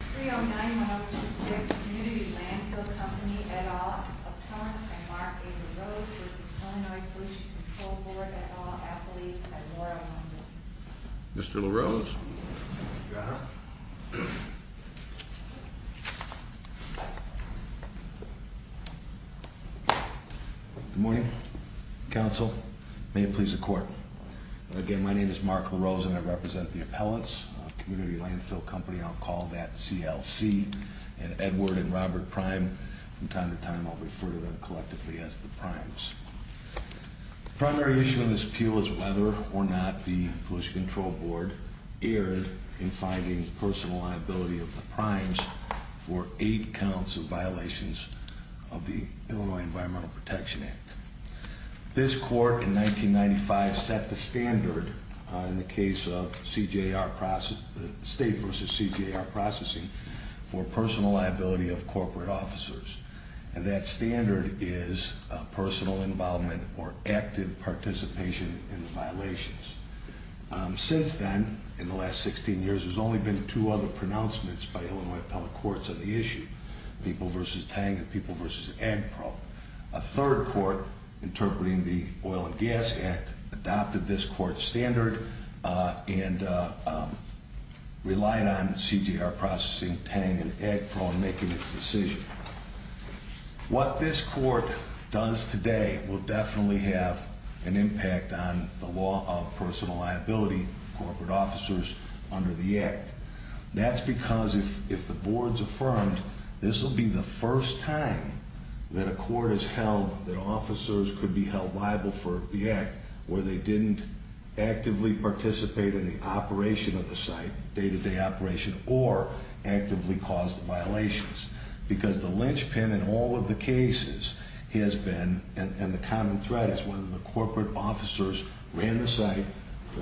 3091 which is the Community Landfill Company et al. Appellants are Mark A. LaRose v. Illinois Pollution Control Board et al. athletes and Laura Lundin. Mr. LaRose. Good morning, counsel. May it please the court. Again, my name is Mark LaRose and I represent the appellants, Community Landfill Company, I'll call that CLC, and Edward and Robert Prime. From time to time I'll refer to them collectively as the Primes. The primary issue in this appeal is whether or not the Pollution Control Board erred in finding personal liability of the Primes for eight counts of violations of the Illinois Environmental Protection Act. This court in 1995 set the standard in the case of state versus CJR processing for personal liability of corporate officers. And that standard is personal involvement or active participation in the violations. Since then, in the last 16 years, there's only been two other pronouncements by Illinois appellate courts on the issue. People v. Tang and People v. Agpro. A third court, interpreting the Oil and Gas Act, adopted this court standard and relied on CJR processing, Tang and Agpro, in making its decision. What this court does today will definitely have an impact on the law of personal liability of corporate officers under the Act. That's because if the Board's affirmed, this will be the first time that a court has held that officers could be held liable for the Act where they didn't actively participate in the operation of the site, day-to-day operation, or actively cause the violations. Because the linchpin in all of the cases has been, and the common thread, is whether the corporate officers ran the site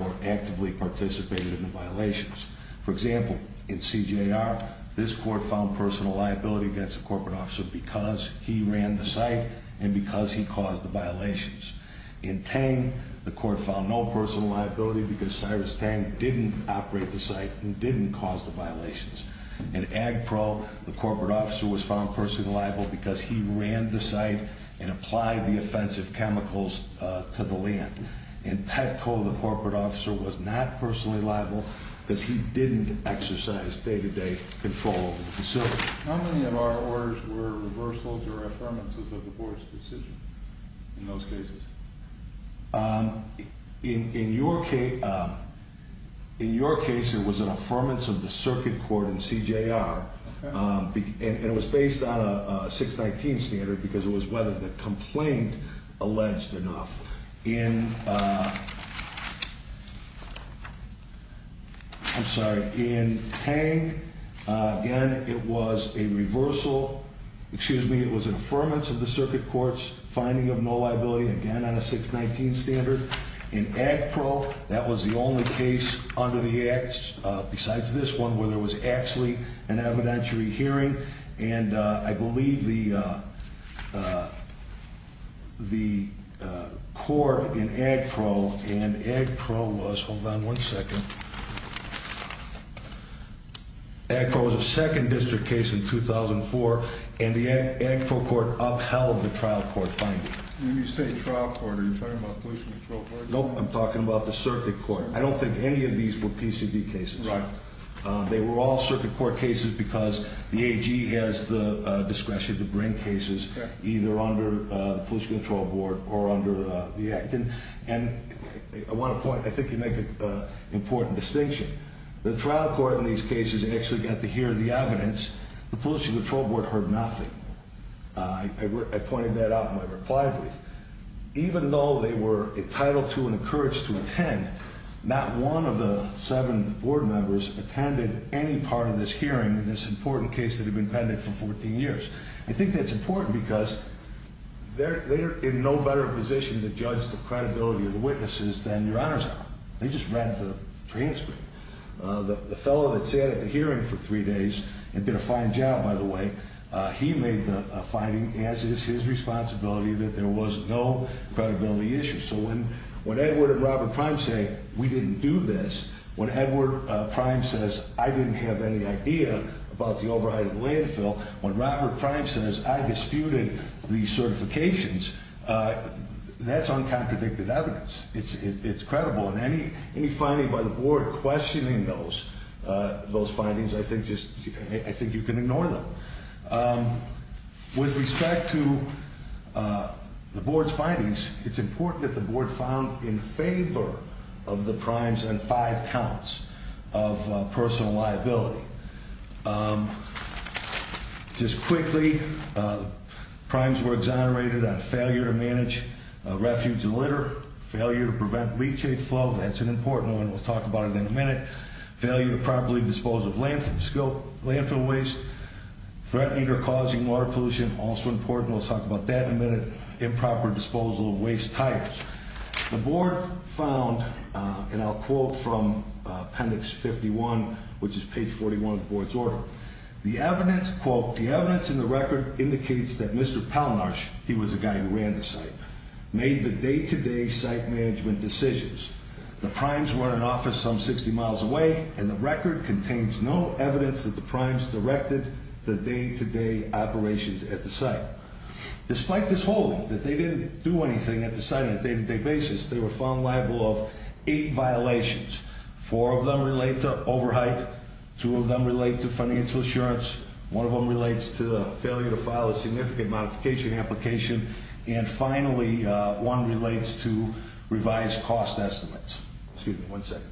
or actively participated in the violations. For example, in CJR, this court found personal liability against a corporate officer because he ran the site and because he caused the violations. In Tang, the court found no personal liability because Cyrus Tang didn't operate the site and didn't cause the violations. In Agpro, the corporate officer was found personally liable because he ran the site and applied the offensive chemicals to the land. In Petco, the corporate officer was not personally liable because he didn't exercise day-to-day control of the facility. How many of our orders were reversals or affirmances of the Board's decision in those cases? In your case, it was an affirmance of the circuit court in CJR, and it was based on a 619 standard because it was whether the complaint alleged enough. In Tang, again, it was a reversal. Excuse me, it was an affirmance of the circuit court's finding of no liability, again, on a 619 standard. In Agpro, that was the only case under the acts, besides this one, where there was actually an evidentiary hearing. I believe the court in Agpro and Agpro was, hold on one second, Agpro was a second district case in 2004, and the Agpro court upheld the trial court finding. When you say trial court, are you talking about police control court? Nope, I'm talking about the circuit court. I don't think any of these were PCB cases. Right. They were all circuit court cases because the AG has the discretion to bring cases either under the police control board or under the act. And I want to point, I think you make an important distinction. The trial court in these cases actually got to hear the evidence. The police control board heard nothing. I pointed that out in my reply brief. Even though they were entitled to and encouraged to attend, not one of the seven board members attended any part of this hearing in this important case that had been pending for 14 years. I think that's important because they're in no better position to judge the credibility of the witnesses than your honors are. They just read the transcript. The fellow that sat at the hearing for three days and did a fine job, by the way, he made the finding, as is his responsibility, that there was no credibility issue. So when Edward and Robert Prime say we didn't do this, when Edward Prime says I didn't have any idea about the override of the landfill, when Robert Prime says I disputed the certifications, that's uncontradicted evidence. It's credible. And any finding by the board questioning those findings, I think you can ignore them. With respect to the board's findings, it's important that the board found in favor of the primes and five counts of personal liability. Just quickly, primes were exonerated on failure to manage refuge and litter, failure to prevent leachate flow. That's an important one. We'll talk about it in a minute. Failure to properly dispose of landfill waste. Threatening or causing water pollution, also important. We'll talk about that in a minute. Improper disposal of waste tires. The board found, and I'll quote from appendix 51, which is page 41 of the board's order. The evidence, quote, the evidence in the record indicates that Mr. Pallmarsh, he was the guy who ran the site, made the day-to-day site management decisions. The primes were in an office some 60 miles away, and the record contains no evidence that the primes directed the day-to-day operations at the site. Despite this holding, that they didn't do anything at the site on a day-to-day basis, they were found liable of eight violations. Four of them relate to overhype. Two of them relate to financial assurance. One of them relates to failure to file a significant modification application. And finally, one relates to revised cost estimates. Excuse me one second.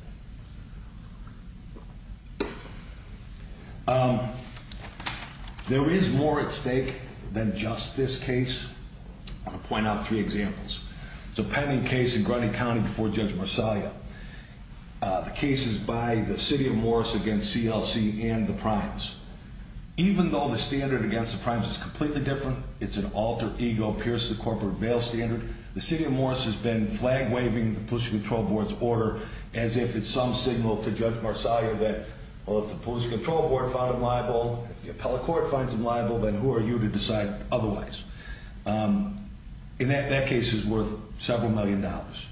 There is more at stake than just this case. I'll point out three examples. It's a pending case in Grunning County before Judge Marsalia. The case is by the city of Morris against CLC and the primes. Even though the standard against the primes is completely different, it's an alter ego, pierce the corporate veil standard. The city of Morris has been flag-waving the police control board's order as if it's some signal to Judge Marsalia that, well, if the police control board finds him liable, if the appellate court finds him liable, then who are you to decide otherwise? And that case is worth several million dollars.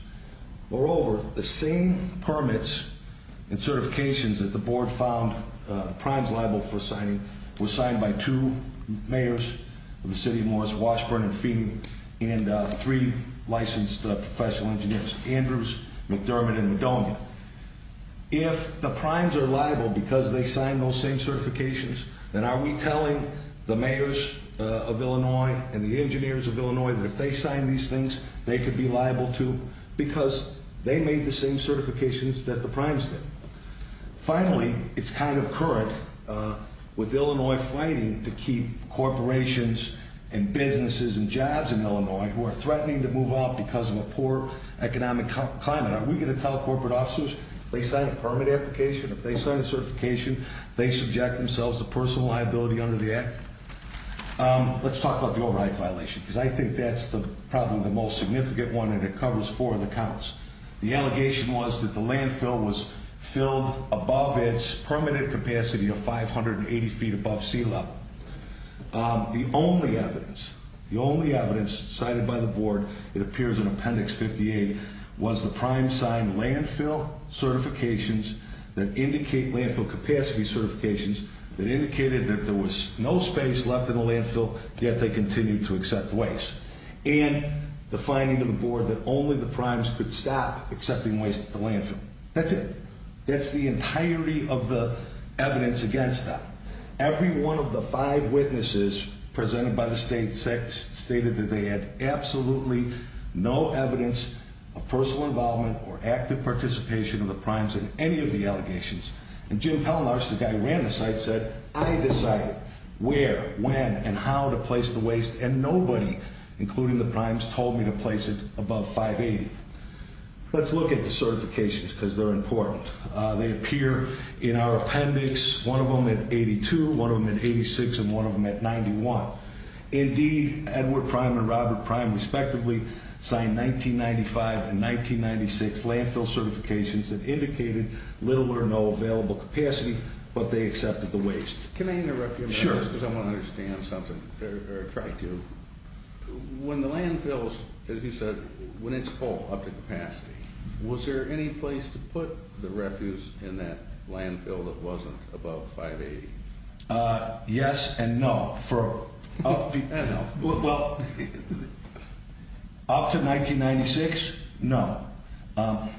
Moreover, the same permits and certifications that the board found the primes liable for signing were signed by two mayors of the city of Morris, Washburn and Feeney, and three licensed professional engineers, Andrews, McDermott, and Madonia. If the primes are liable because they signed those same certifications, then are we telling the mayors of Illinois and the engineers of Illinois that if they sign these things, they could be liable too because they made the same certifications that the primes did? Finally, it's kind of current with Illinois fighting to keep corporations and businesses and jobs in Illinois who are threatening to move out because of a poor economic climate. Are we going to tell corporate officers if they sign a permit application, if they sign a certification, if they subject themselves to personal liability under the act? Let's talk about the override violation because I think that's probably the most significant one and it covers four of the counts. The allegation was that the landfill was filled above its permitted capacity of 580 feet above sea level. The only evidence cited by the board, it appears in appendix 58, was the primes signed landfill certifications that indicate landfill capacity certifications that indicated that there was no space left in the landfill, yet they continued to accept waste. And the finding of the board that only the primes could stop accepting waste at the landfill. That's it. That's the entirety of the evidence against them. Every one of the five witnesses presented by the state stated that they had absolutely no evidence of personal involvement or active participation of the primes in any of the allegations. And Jim Pellenaar, the guy who ran the site, said, I decided where, when, and how to place the waste and nobody, including the primes, told me to place it above 580. Let's look at the certifications because they're important. They appear in our appendix, one of them at 82, one of them at 86, and one of them at 91. Indeed, Edward Prime and Robert Prime, respectively, signed 1995 and 1996 landfill certifications that indicated little or no available capacity, but they accepted the waste. Can I interrupt you? Sure. Because I want to understand something, or try to. When the landfills, as you said, when it's full, up to capacity, was there any place to put the refuse in that landfill that wasn't above 580? Yes and no. Up to 1996, no. I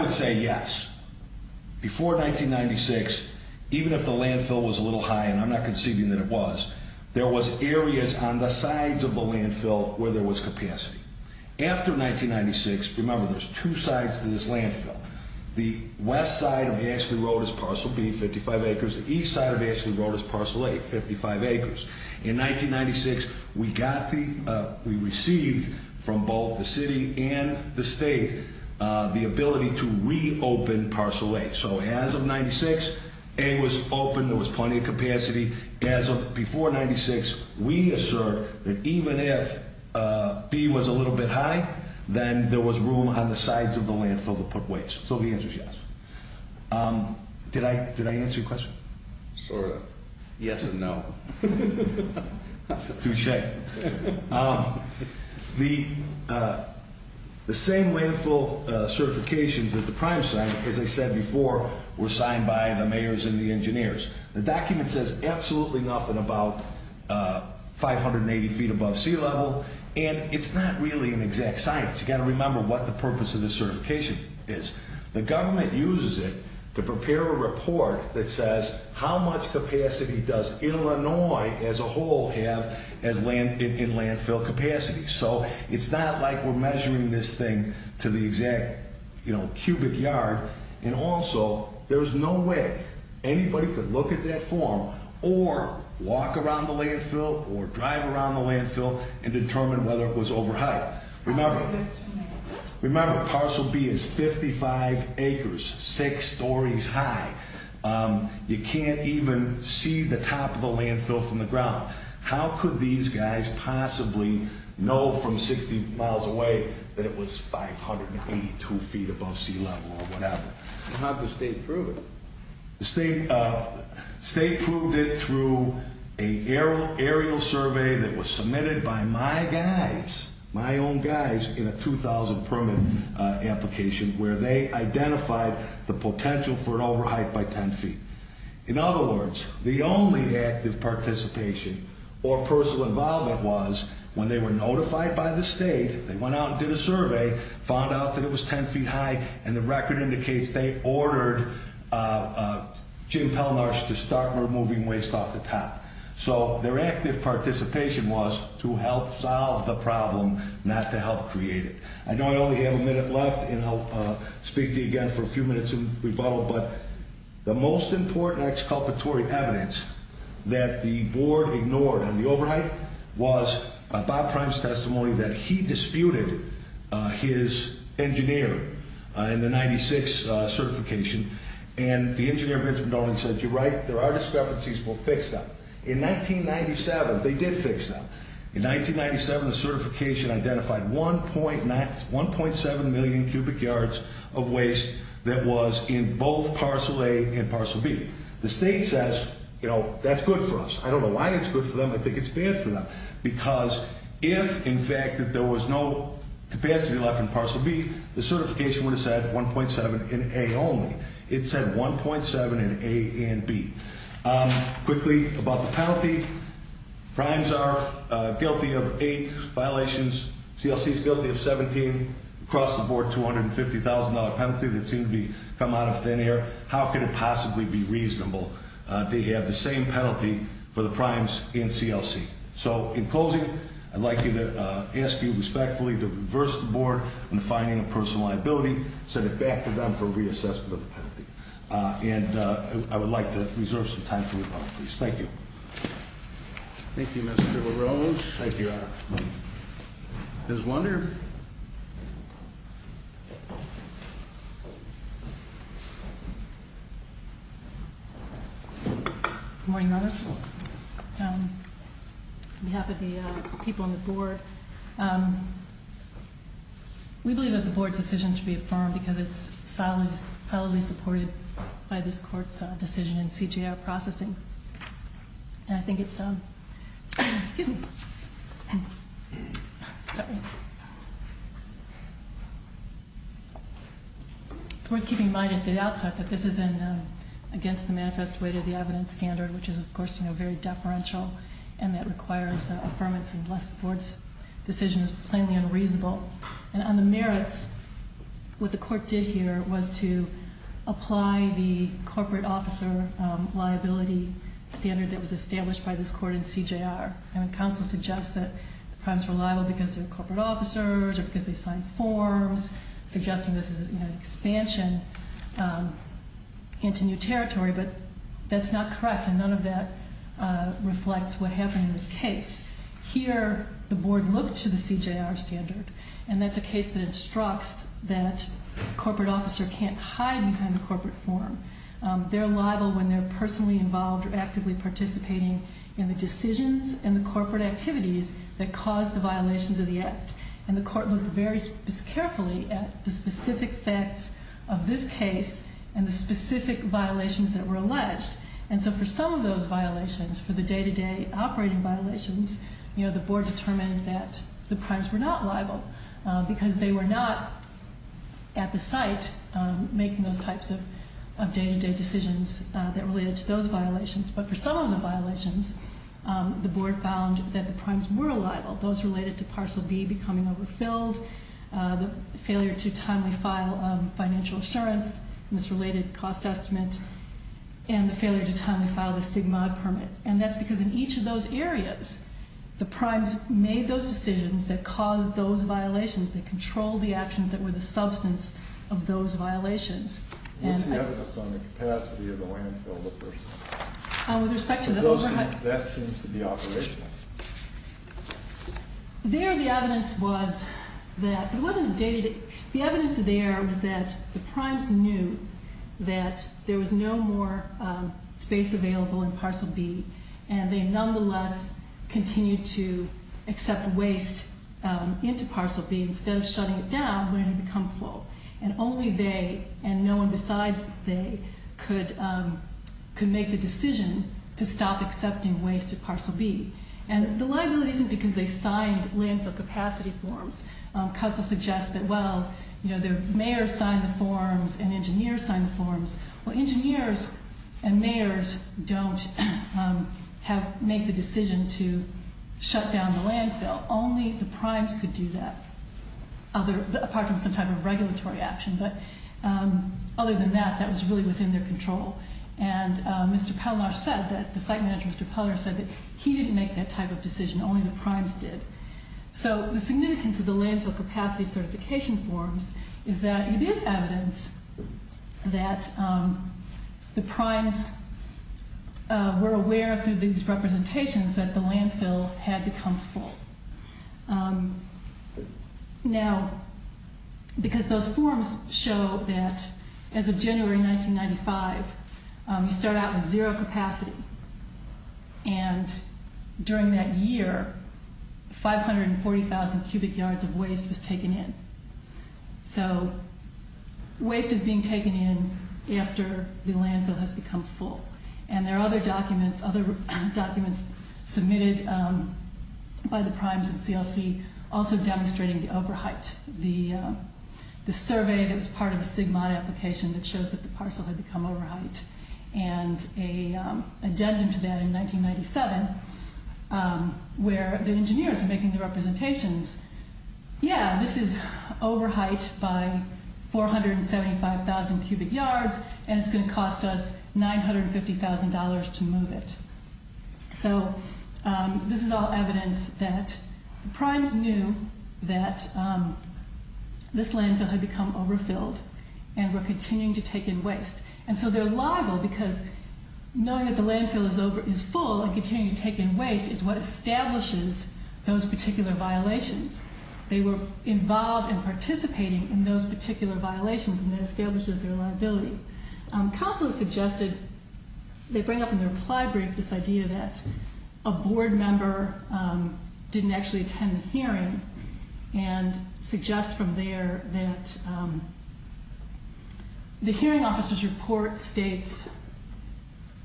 would say yes. Before 1996, even if the landfill was a little high, and I'm not conceiving that it was, there was areas on the sides of the landfill where there was capacity. After 1996, remember, there's two sides to this landfill. The west side of Ashley Road is parcel B, 55 acres. The east side of Ashley Road is parcel A, 55 acres. In 1996, we received from both the city and the state the ability to reopen parcel A. So as of 1996, A was open, there was plenty of capacity. As of before 1996, we assert that even if B was a little bit high, then there was room on the sides of the landfill to put waste. So the answer is yes. Did I answer your question? Sort of. Yes and no. Touche. The same landfill certifications that the Prime signed, as I said before, were signed by the mayors and the engineers. The document says absolutely nothing about 580 feet above sea level, and it's not really an exact science. You've got to remember what the purpose of this certification is. The government uses it to prepare a report that says how much capacity does Illinois as a whole have in landfill capacity. So it's not like we're measuring this thing to the exact cubic yard. And also, there's no way anybody could look at that form or walk around the landfill or drive around the landfill and determine whether it was over height. Remember, parcel B is 55 acres, six stories high. You can't even see the top of the landfill from the ground. How could these guys possibly know from 60 miles away that it was 582 feet above sea level or whatever? How did the state prove it? The state proved it through an aerial survey that was submitted by my guys, my own guys, in a 2,000 permit application where they identified the potential for an over height by 10 feet. In other words, the only active participation or personal involvement was when they were notified by the state. They went out and did a survey, found out that it was 10 feet high, and the record indicates they ordered Jim Pelnarch to start removing waste off the top. So their active participation was to help solve the problem, not to help create it. I know I only have a minute left, and I'll speak to you again for a few minutes in rebuttal. But the most important exculpatory evidence that the board ignored on the over height was Bob Prime's testimony that he disputed his engineer in the 96 certification. And the engineer said, you're right, there are discrepancies. We'll fix them. In 1997, they did fix them. In 1997, the certification identified 1.7 million cubic yards of waste that was in both parcel A and parcel B. The state says, you know, that's good for us. I don't know why it's good for them. I think it's bad for them. Because if, in fact, that there was no capacity left in parcel B, the certification would have said 1.7 in A only. It said 1.7 in A and B. Quickly about the penalty. Primes are guilty of eight violations. CLC is guilty of 17. Across the board, $250,000 penalty that seemed to be come out of thin air. How could it possibly be reasonable to have the same penalty for the primes in CLC? So in closing, I'd like to ask you respectfully to reverse the board in finding a personal liability, send it back to them for reassessment of the penalty. And I would like to reserve some time for rebuttal, please. Thank you. Thank you, Mr. LaRose. Thank you, Your Honor. Ms. Wonder. Good morning, members. On behalf of the people on the board, we believe that the board's decision should be affirmed because it's solidly supported by this court's decision in CJR processing. And I think it's, excuse me, sorry. It's worth keeping in mind at the outset that this is against the manifest way to the evidence standard, which is, of course, very deferential. And that requires affirmance unless the board's decision is plainly unreasonable. And on the merits, what the court did here was to apply the corporate officer liability standard that was established by this court in CJR. I mean, counsel suggests that the prime's reliable because they're corporate officers or because they signed forms, suggesting this is an expansion into new territory. But that's not correct, and none of that reflects what happened in this case. Here, the board looked to the CJR standard, and that's a case that instructs that a corporate officer can't hide behind a corporate form. They're liable when they're personally involved or actively participating in the decisions and the corporate activities that cause the violations of the act. And the court looked very carefully at the specific facts of this case and the specific violations that were alleged. And so for some of those violations, for the day-to-day operating violations, the board determined that the primes were not liable because they were not at the site making those types of day-to-day decisions that related to those violations. But for some of the violations, the board found that the primes were liable. Those related to Parcel B becoming overfilled, the failure to timely file financial assurance, misrelated cost estimate, and the failure to timely file the SIGMOD permit. And that's because in each of those areas, the primes made those decisions that caused those violations, that controlled the actions that were the substance of those violations. What's the evidence on the capacity of the landfill? With respect to the overhead? That seems to be operational. There the evidence was that it wasn't day-to-day. The evidence there was that the primes knew that there was no more space available in Parcel B, and they nonetheless continued to accept waste into Parcel B instead of shutting it down when it had become full. And only they, and no one besides they, could make the decision to stop accepting waste at Parcel B. And the liability isn't because they signed landfill capacity forms. Cuts will suggest that, well, mayors signed the forms and engineers signed the forms. Well, engineers and mayors don't make the decision to shut down the landfill. Well, only the primes could do that, apart from some type of regulatory action. But other than that, that was really within their control. And Mr. Pelnar said that the site manager, Mr. Pelnar, said that he didn't make that type of decision. Only the primes did. So the significance of the landfill capacity certification forms is that it is evidence that the primes were aware through these representations that the landfill had become full. Now, because those forms show that as of January 1995, you start out with zero capacity. And during that year, 540,000 cubic yards of waste was taken in. So waste is being taken in after the landfill has become full. And there are other documents submitted by the primes and CLC also demonstrating the over-height. The survey that was part of the SIGMOD application that shows that the parcel had become over-height. And an addendum to that in 1997, where the engineers are making the representations. Yeah, this is over-height by 475,000 cubic yards, and it's going to cost us $950,000 to move it. So this is all evidence that the primes knew that this landfill had become over-filled, and were continuing to take in waste. And so they're liable because knowing that the landfill is full and continuing to take in waste is what establishes those particular violations. They were involved in participating in those particular violations, and that establishes their liability. Counselors suggested they bring up in their reply brief this idea that a board member didn't actually attend the hearing and suggest from there that the hearing officer's report states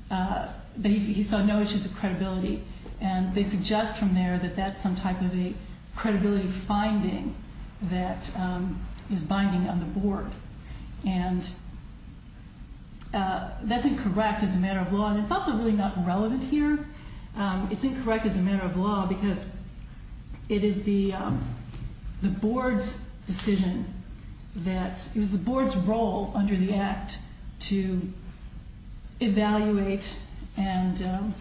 that he saw no issues of credibility and they suggest from there that that's some type of a credibility finding that is binding on the board. And that's incorrect as a matter of law, and it's also really not relevant here. It's incorrect as a matter of law because it is the board's decision that, it was the board's role under the Act to evaluate and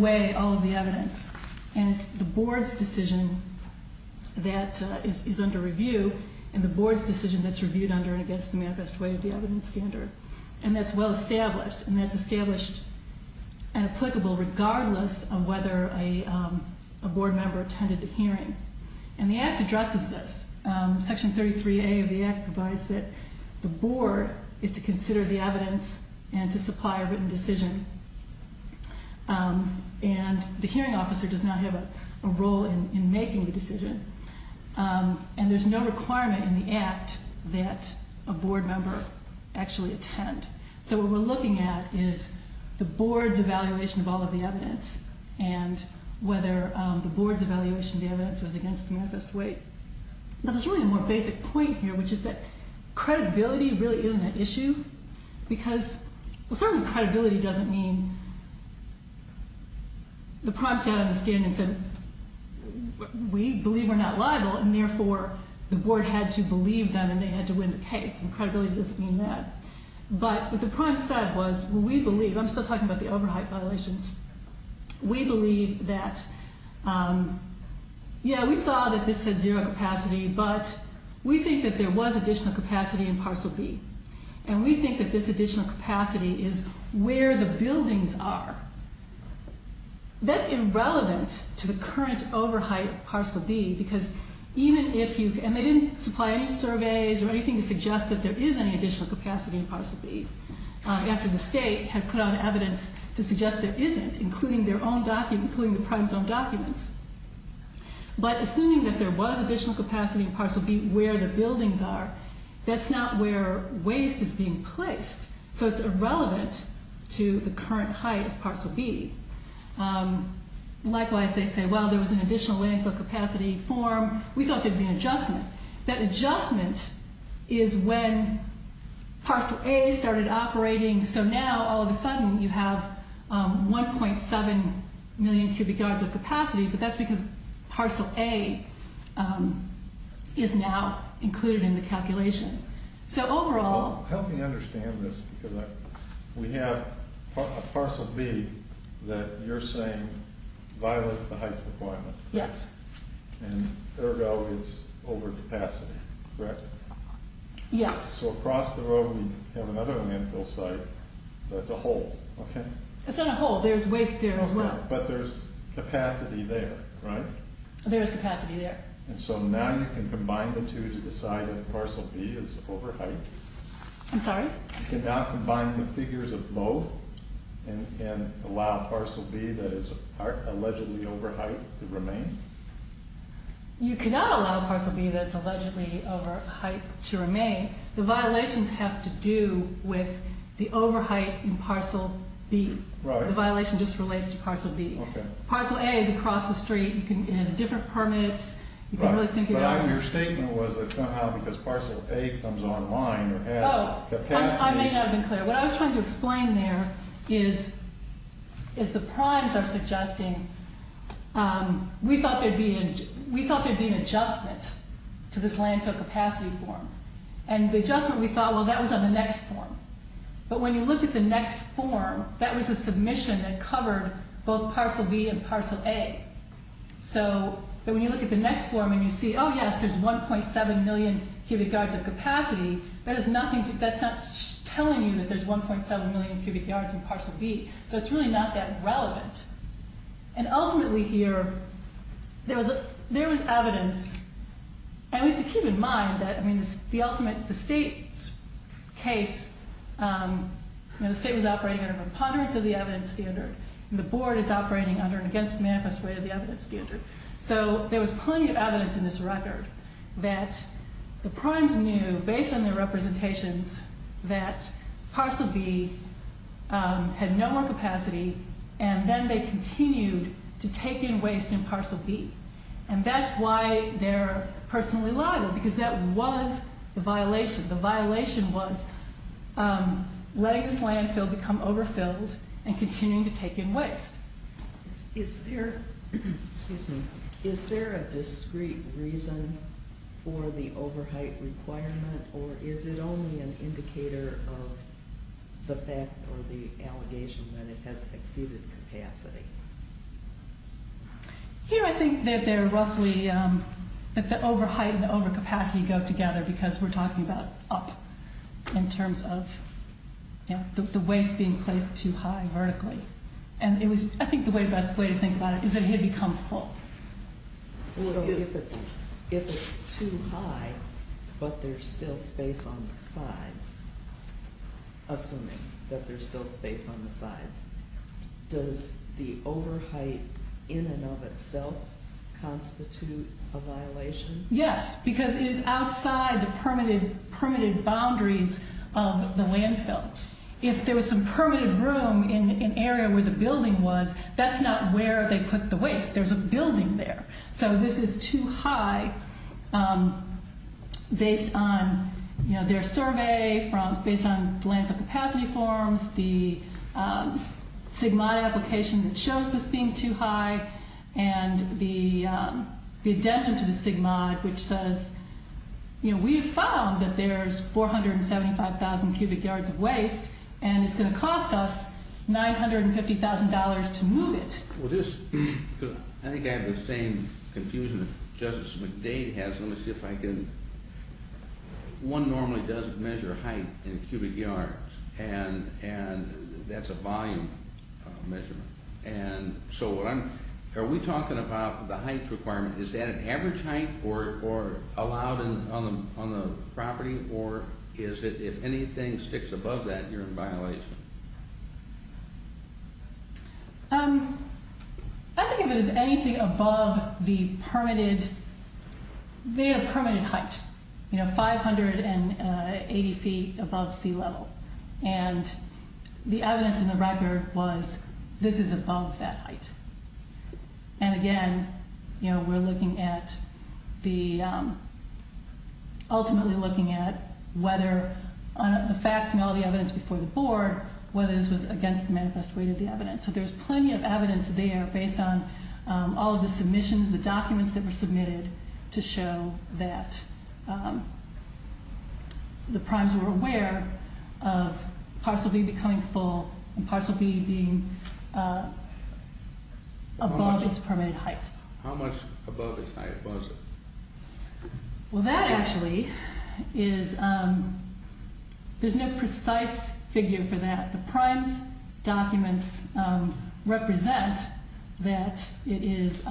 weigh all of the evidence, and it's the board's decision that is under review, and the board's decision that's reviewed under and against the manifest way of the evidence standard. And that's well established, and that's established and applicable regardless of whether a board member attended the hearing. And the Act addresses this. Section 33A of the Act provides that the board is to consider the evidence and to supply a written decision, and the hearing officer does not have a role in making the decision, and there's no requirement in the Act that a board member actually attend. So what we're looking at is the board's evaluation of all of the evidence and whether the board's evaluation of the evidence was against the manifest way. Now, there's really a more basic point here, which is that credibility really isn't an issue because, well, certainly credibility doesn't mean, the primes got out of the stand and said, we believe we're not liable, and therefore the board had to believe them and they had to win the case, and credibility doesn't mean that. But what the primes said was, well, we believe, and I'm still talking about the over-height violations, we believe that, yeah, we saw that this had zero capacity, but we think that there was additional capacity in Parcel B, and we think that this additional capacity is where the buildings are. That's irrelevant to the current over-height of Parcel B because even if you, and they didn't supply any surveys or anything to suggest that there is any additional capacity in Parcel B after the state had put out evidence to suggest there isn't, including the primes' own documents. But assuming that there was additional capacity in Parcel B where the buildings are, that's not where waste is being placed, so it's irrelevant to the current height of Parcel B. Likewise, they say, well, there was an additional landfill capacity form, we thought there'd be an adjustment. That adjustment is when Parcel A started operating, so now all of a sudden you have 1.7 million cubic yards of capacity, but that's because Parcel A is now included in the calculation. Help me understand this, because we have a Parcel B that you're saying violates the height requirement. Yes. And air value is over capacity, correct? Yes. So across the road we have another landfill site that's a hole, okay? It's not a hole, there's waste there as well. But there's capacity there, right? There is capacity there. And so now you can combine the two to decide that Parcel B is over height? I'm sorry? You cannot combine the figures of both and allow Parcel B that is allegedly over height to remain? You cannot allow Parcel B that's allegedly over height to remain. The violations have to do with the over height in Parcel B. Right. The violation just relates to Parcel B. Okay. Parcel A is across the street. It has different permits. Your statement was that somehow because Parcel A comes online or has capacity. I may not have been clear. What I was trying to explain there is the primes are suggesting we thought there'd be an adjustment to this landfill capacity form. And the adjustment we thought, well, that was on the next form. But when you look at the next form, that was a submission that covered both Parcel B and Parcel A. So when you look at the next form and you see, oh, yes, there's 1.7 million cubic yards of capacity, that's not telling you that there's 1.7 million cubic yards in Parcel B. So it's really not that relevant. And ultimately here, there was evidence. And we have to keep in mind that, I mean, the ultimate, the state's case, the state was operating under a preponderance of the evidence standard, and the board is operating under and against the manifest rate of the evidence standard. So there was plenty of evidence in this record that the primes knew, based on their representations, that Parcel B had no more capacity, and then they continued to take in waste in Parcel B. And that's why they're personally liable, because that was the violation. The violation was letting this landfill become overfilled and continuing to take in waste. Is there a discrete reason for the overheight requirement, or is it only an indicator of the fact or the allegation that it has exceeded capacity? Here I think that they're roughly, that the overheight and the overcapacity go together, because we're talking about up in terms of the waste being placed too high vertically. And I think the best way to think about it is that it had become full. So if it's too high, but there's still space on the sides, assuming that there's still space on the sides, does the overheight in and of itself constitute a violation? Yes, because it is outside the permitted boundaries of the landfill. If there was some permitted room in an area where the building was, that's not where they put the waste. There's a building there. So this is too high based on their survey, based on landfill capacity forms, the SIGMOD application that shows this being too high, and the addendum to the SIGMOD, which says, we have found that there's 475,000 cubic yards of waste, and it's going to cost us $950,000 to move it. I think I have the same confusion that Justice McDade has. Let me see if I can... One normally doesn't measure height in cubic yards, and that's a volume measurement. And so are we talking about the height requirement? Is that an average height allowed on the property, or if anything sticks above that, you're in violation? I think of it as anything above the permitted height, you know, 580 feet above sea level. And the evidence in the record was this is above that height. And again, you know, we're looking at the... ultimately looking at whether facts and all the evidence before the board, whether this was against the manifest weight of the evidence. So there's plenty of evidence there based on all of the submissions, the documents that were submitted to show that the primes were aware of parcel B becoming full and parcel B being above its permitted height. How much above its height was it? Well, that actually is... there's no precise figure for that. The primes documents represent that it is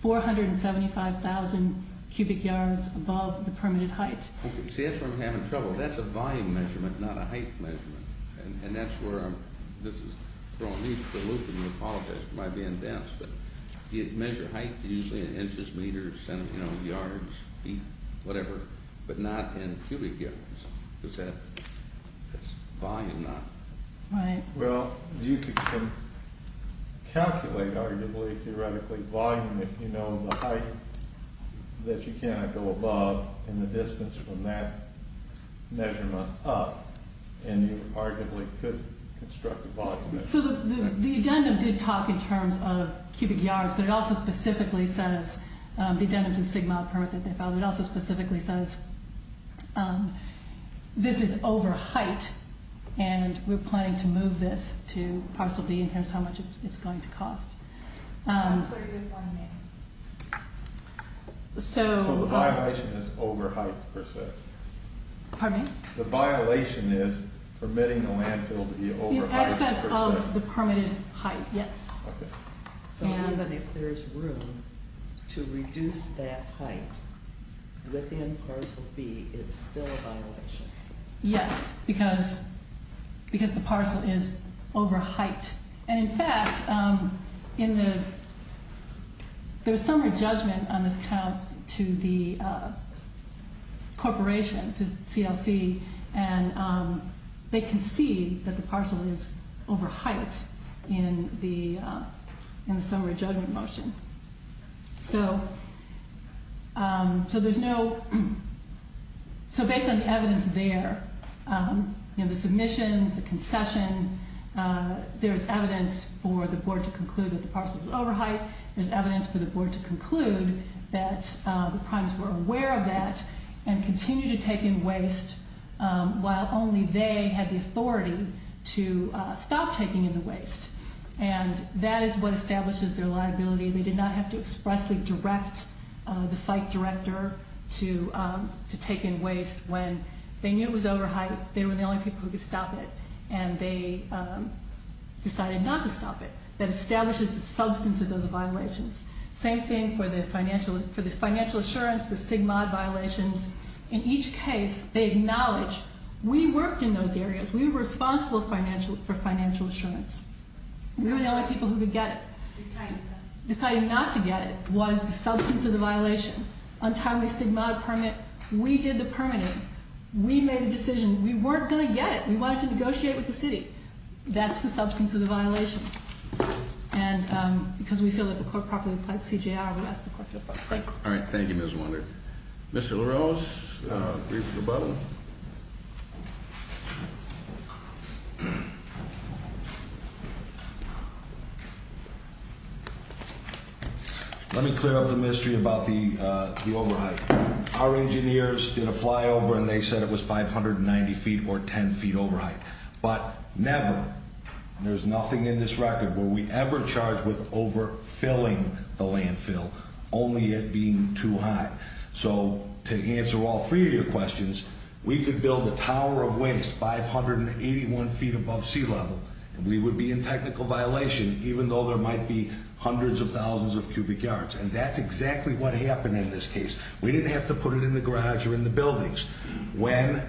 475,000 cubic yards above the permitted height. See, that's where I'm having trouble. That's a volume measurement, not a height measurement. And that's where I'm...this is throwing me for a loop, and I apologize. We might be in dents, but you measure height usually in inches, meters, you know, yards, feet, whatever, but not in cubic yards. Does that...that's volume, not... Right. Well, you can calculate, arguably, theoretically, volume if you know the height that you cannot go above and the distance from that measurement up, and you arguably could construct a volume measurement. So the addendum did talk in terms of cubic yards, but it also specifically says...the addendum to the Sigma permit that they filed, it also specifically says this is over height, and we're planning to move this to Parcel B in terms of how much it's going to cost. So the violation is over height per se? Pardon me? The violation is permitting the landfill to be over height per se? The excess of the permitted height, yes. Okay. So even if there's room to reduce that height within Parcel B, it's still a violation? Yes, because the parcel is over height. And, in fact, in the... there was some re-judgment on this count to the corporation, to CLC, and they concede that the parcel is over height in the summary judgment motion. So there's no...so based on the evidence there, the submissions, the concession, there's evidence for the board to conclude that the parcel is over height, there's evidence for the board to conclude that the primes were aware of that and continue to take in waste while only they had the authority to stop taking in the waste. And that is what establishes their liability. They did not have to expressly direct the site director to take in waste. When they knew it was over height, they were the only people who could stop it, and they decided not to stop it. That establishes the substance of those violations. Same thing for the financial assurance, the SIGMOD violations. In each case, they acknowledge, we worked in those areas, we were responsible for financial assurance. We were the only people who could get it. Deciding not to get it was the substance of the violation. On timely SIGMOD permit, we did the permitting. We made a decision. We weren't going to get it. That's the substance of the violation. And because we feel that the court properly applied CJR, we ask the court to apply. All right. Thank you, Ms. Wunder. Mr. Laroche, brief rebuttal. Let me clear up the mystery about the over height. Our engineers did a flyover, and they said it was 590 feet or 10 feet over height. But never, there's nothing in this record where we ever charged with overfilling the landfill, only it being too high. So to answer all three of your questions, we could build a tower of waste 581 feet above sea level, and we would be in technical violation, even though there might be hundreds of thousands of cubic yards. And that's exactly what happened in this case. We didn't have to put it in the garage or in the buildings. When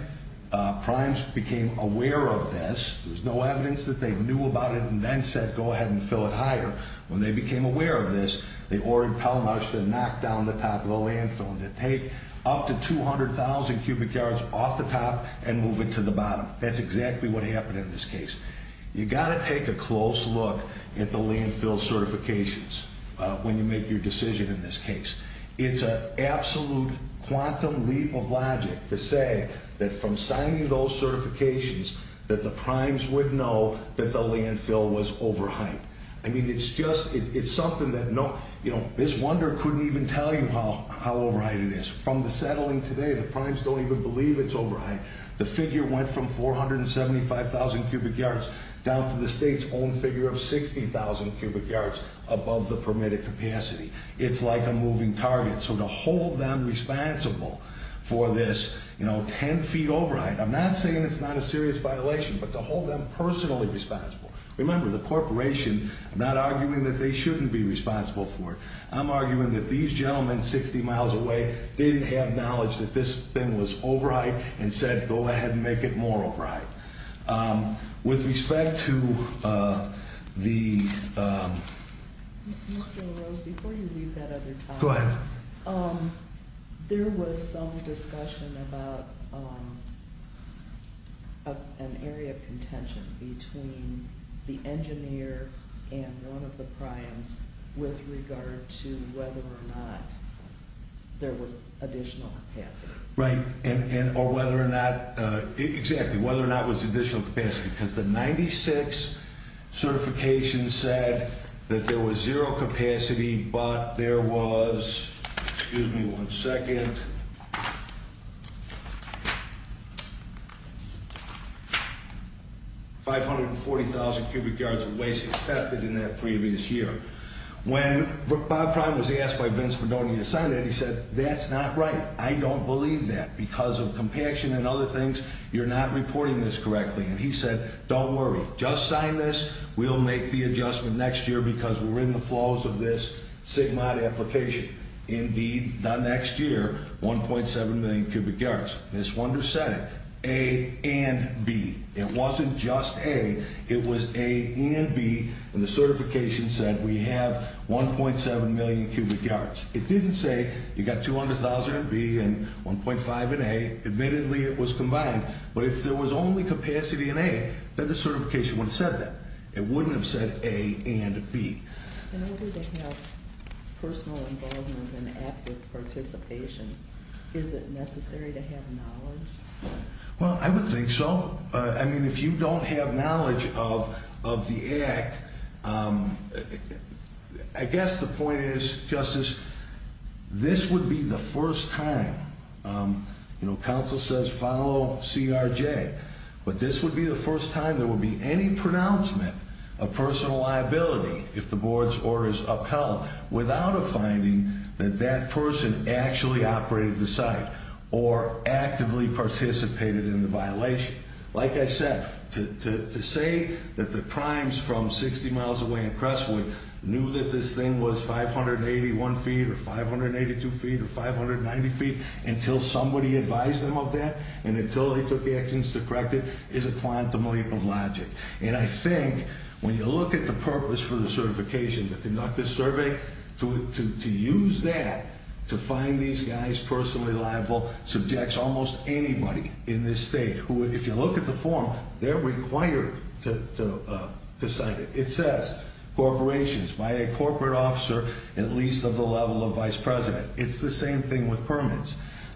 Primes became aware of this, there's no evidence that they knew about it and then said, go ahead and fill it higher. When they became aware of this, they ordered Pelmarsh to knock down the top of the landfill and to take up to 200,000 cubic yards off the top and move it to the bottom. That's exactly what happened in this case. You've got to take a close look at the landfill certifications when you make your decision in this case. It's an absolute quantum leap of logic to say that from signing those certifications that the Primes would know that the landfill was overhyped. I mean, it's just, it's something that no, you know, this wonder couldn't even tell you how overhyped it is. From the settling today, the Primes don't even believe it's overhyped. The figure went from 475,000 cubic yards down to the state's own figure of 60,000 cubic yards above the permitted capacity. It's like a moving target. So to hold them responsible for this, you know, 10 feet overhyped, I'm not saying it's not a serious violation, but to hold them personally responsible. Remember, the corporation, I'm not arguing that they shouldn't be responsible for it. I'm arguing that these gentlemen 60 miles away didn't have knowledge that this thing was overhyped and said, go ahead and make it more overhyped. With respect to the... Mr. LaRose, before you leave that other topic... Go ahead. There was some discussion about an area of contention between the engineer and one of the Primes with regard to whether or not there was additional capacity. Right. Or whether or not... Exactly, whether or not it was additional capacity. Because the 96 certification said that there was zero capacity, but there was... Excuse me one second. 540,000 cubic yards of waste accepted in that previous year. When Bob Prime was asked by Vince Padone to sign that, he said, that's not right. I don't believe that. Because of compassion and other things, you're not reporting this correctly. And he said, don't worry. Just sign this. We'll make the adjustment next year because we're in the flows of this SIGMOD application. Indeed, the next year, 1.7 million cubic yards. Ms. Wonders said it, A and B. It wasn't just A. It was A and B. And the certification said we have 1.7 million cubic yards. It didn't say you got 200,000 in B and 1.5 in A. Admittedly, it was combined. But if there was only capacity in A, then the certification wouldn't have said that. It wouldn't have said A and B. In order to have personal involvement and active participation, is it necessary to have knowledge? Well, I would think so. I mean, if you don't have knowledge of the act, I guess the point is, Justice, this would be the first time. You know, counsel says follow CRJ. But this would be the first time there would be any pronouncement of personal liability if the board's order is upheld without a finding that that person actually operated the site or actively participated in the violation. Like I said, to say that the crimes from 60 miles away in Crestwood knew that this thing was 581 feet or 582 feet or 590 feet until somebody advised them of that and until they took actions to correct it is a quantum leap of logic. And I think when you look at the purpose for the certification to conduct this survey, to use that to find these guys personally liable subjects almost anybody in this state who, if you look at the form, they're required to cite it. It says corporations by a corporate officer at least of the level of vice president.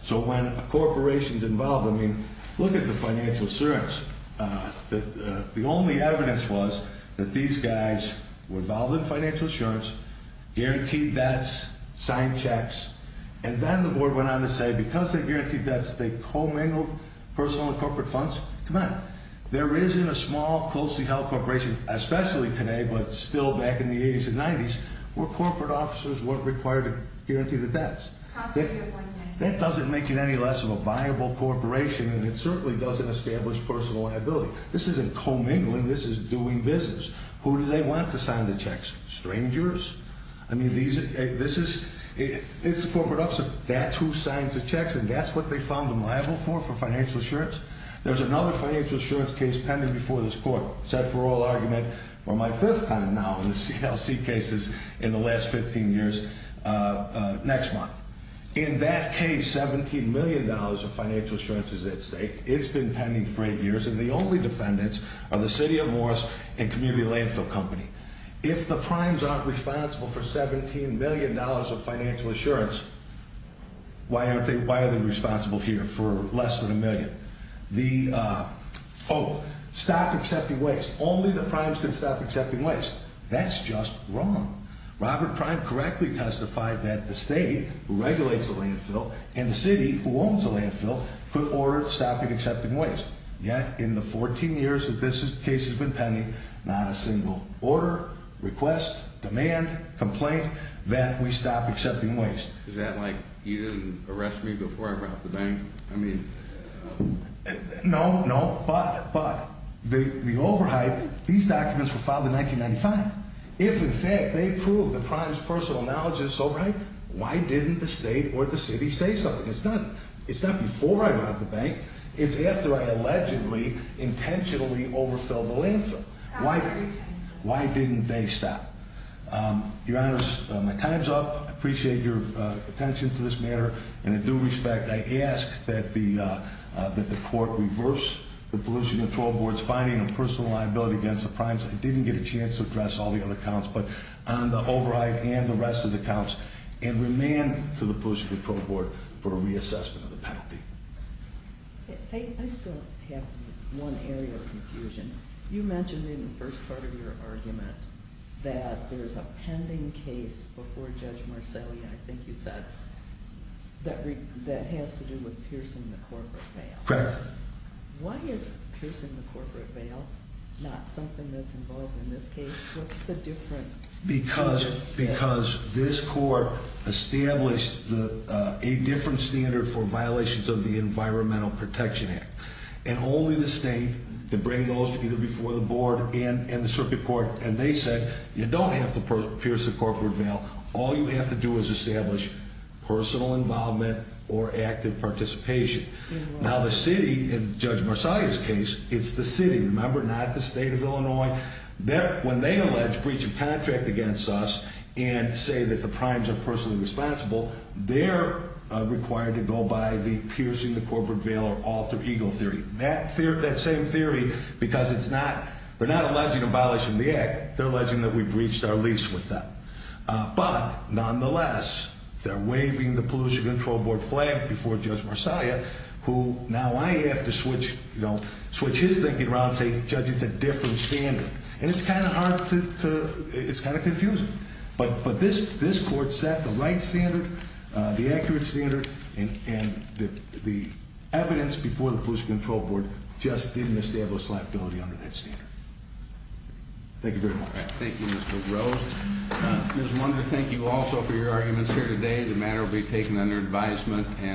So when a corporation's involved, I mean, look at the financial assurance. The only evidence was that these guys were involved in financial assurance, guaranteed debts, signed checks. And then the board went on to say because they guaranteed debts, they commingled personal and corporate funds. Come on. There isn't a small, closely held corporation, especially today, but still back in the 80s and 90s, where corporate officers weren't required to guarantee the debts. That doesn't make it any less of a viable corporation, and it certainly doesn't establish personal liability. This isn't commingling. This is doing business. Who do they want to sign the checks? Strangers? I mean, this is a corporate officer. That's who signs the checks, and that's what they found them liable for, for financial assurance. There's another financial assurance case pending before this court set for oral argument for my fifth time now in the CLC cases in the last 15 years next month. In that case, $17 million of financial assurance is at stake. It's been pending for eight years, and the only defendants are the city of Morris and Community Landfill Company. If the Primes aren't responsible for $17 million of financial assurance, why are they responsible here for less than a million? The, oh, stop accepting waste. Only the Primes can stop accepting waste. That's just wrong. Robert Prime correctly testified that the state who regulates the landfill and the city who owns the landfill put orders stopping accepting waste. Yet, in the 14 years that this case has been pending, not a single order, request, demand, complaint that we stop accepting waste. Is that like you didn't arrest me before I robbed the bank? I mean. No, no, but, but the overhype, these documents were filed in 1995. If, in fact, they prove the Primes' personal knowledge is so right, why didn't the state or the city say something? It's not, it's not before I robbed the bank. It's after I allegedly intentionally overfilled the landfill. Why, why didn't they stop? Your Honor, my time's up. I appreciate your attention to this matter, and in due respect, I ask that the, that the court reverse the Pollution Control Board's finding of personal liability against the Primes. I didn't get a chance to address all the other counts, but the overhype and the rest of the counts, and remand to the Pollution Control Board for a reassessment of the penalty. I still have one area of confusion. You mentioned in the first part of your argument that there's a pending case before Judge Marcelli, I think you said, that has to do with piercing the corporate bail. Correct. Why is piercing the corporate bail not something that's involved in this case? What's the difference? Because, because this court established the, a different standard for violations of the Environmental Protection Act. And only the state could bring those either before the board and, and the circuit court. And they said, you don't have to pierce the corporate bail. All you have to do is establish personal involvement or active participation. Now the city, in Judge Marcelli's case, it's the city, remember, not the state of Illinois. There, when they allege breach of contract against us and say that the Primes are personally responsible, they're required to go by the piercing the corporate bail or alter ego theory. That theory, that same theory, because it's not, they're not alleging abolishing the act. They're alleging that we breached our lease with them. But, nonetheless, they're waving the Pollution Control Board flag before Judge Marcelli, who, now I have to switch, you know, switch his thinking around and say, Judge, it's a different standard. And it's kind of hard to, to, it's kind of confusing. But, but this, this court set the right standard, the accurate standard, and, and the, the evidence before the Pollution Control Board just didn't establish liability under that standard. Thank you very much. Thank you, Mr. Rose. Ms. Wonder, thank you also for your arguments here today. The matter will be taken under advisement.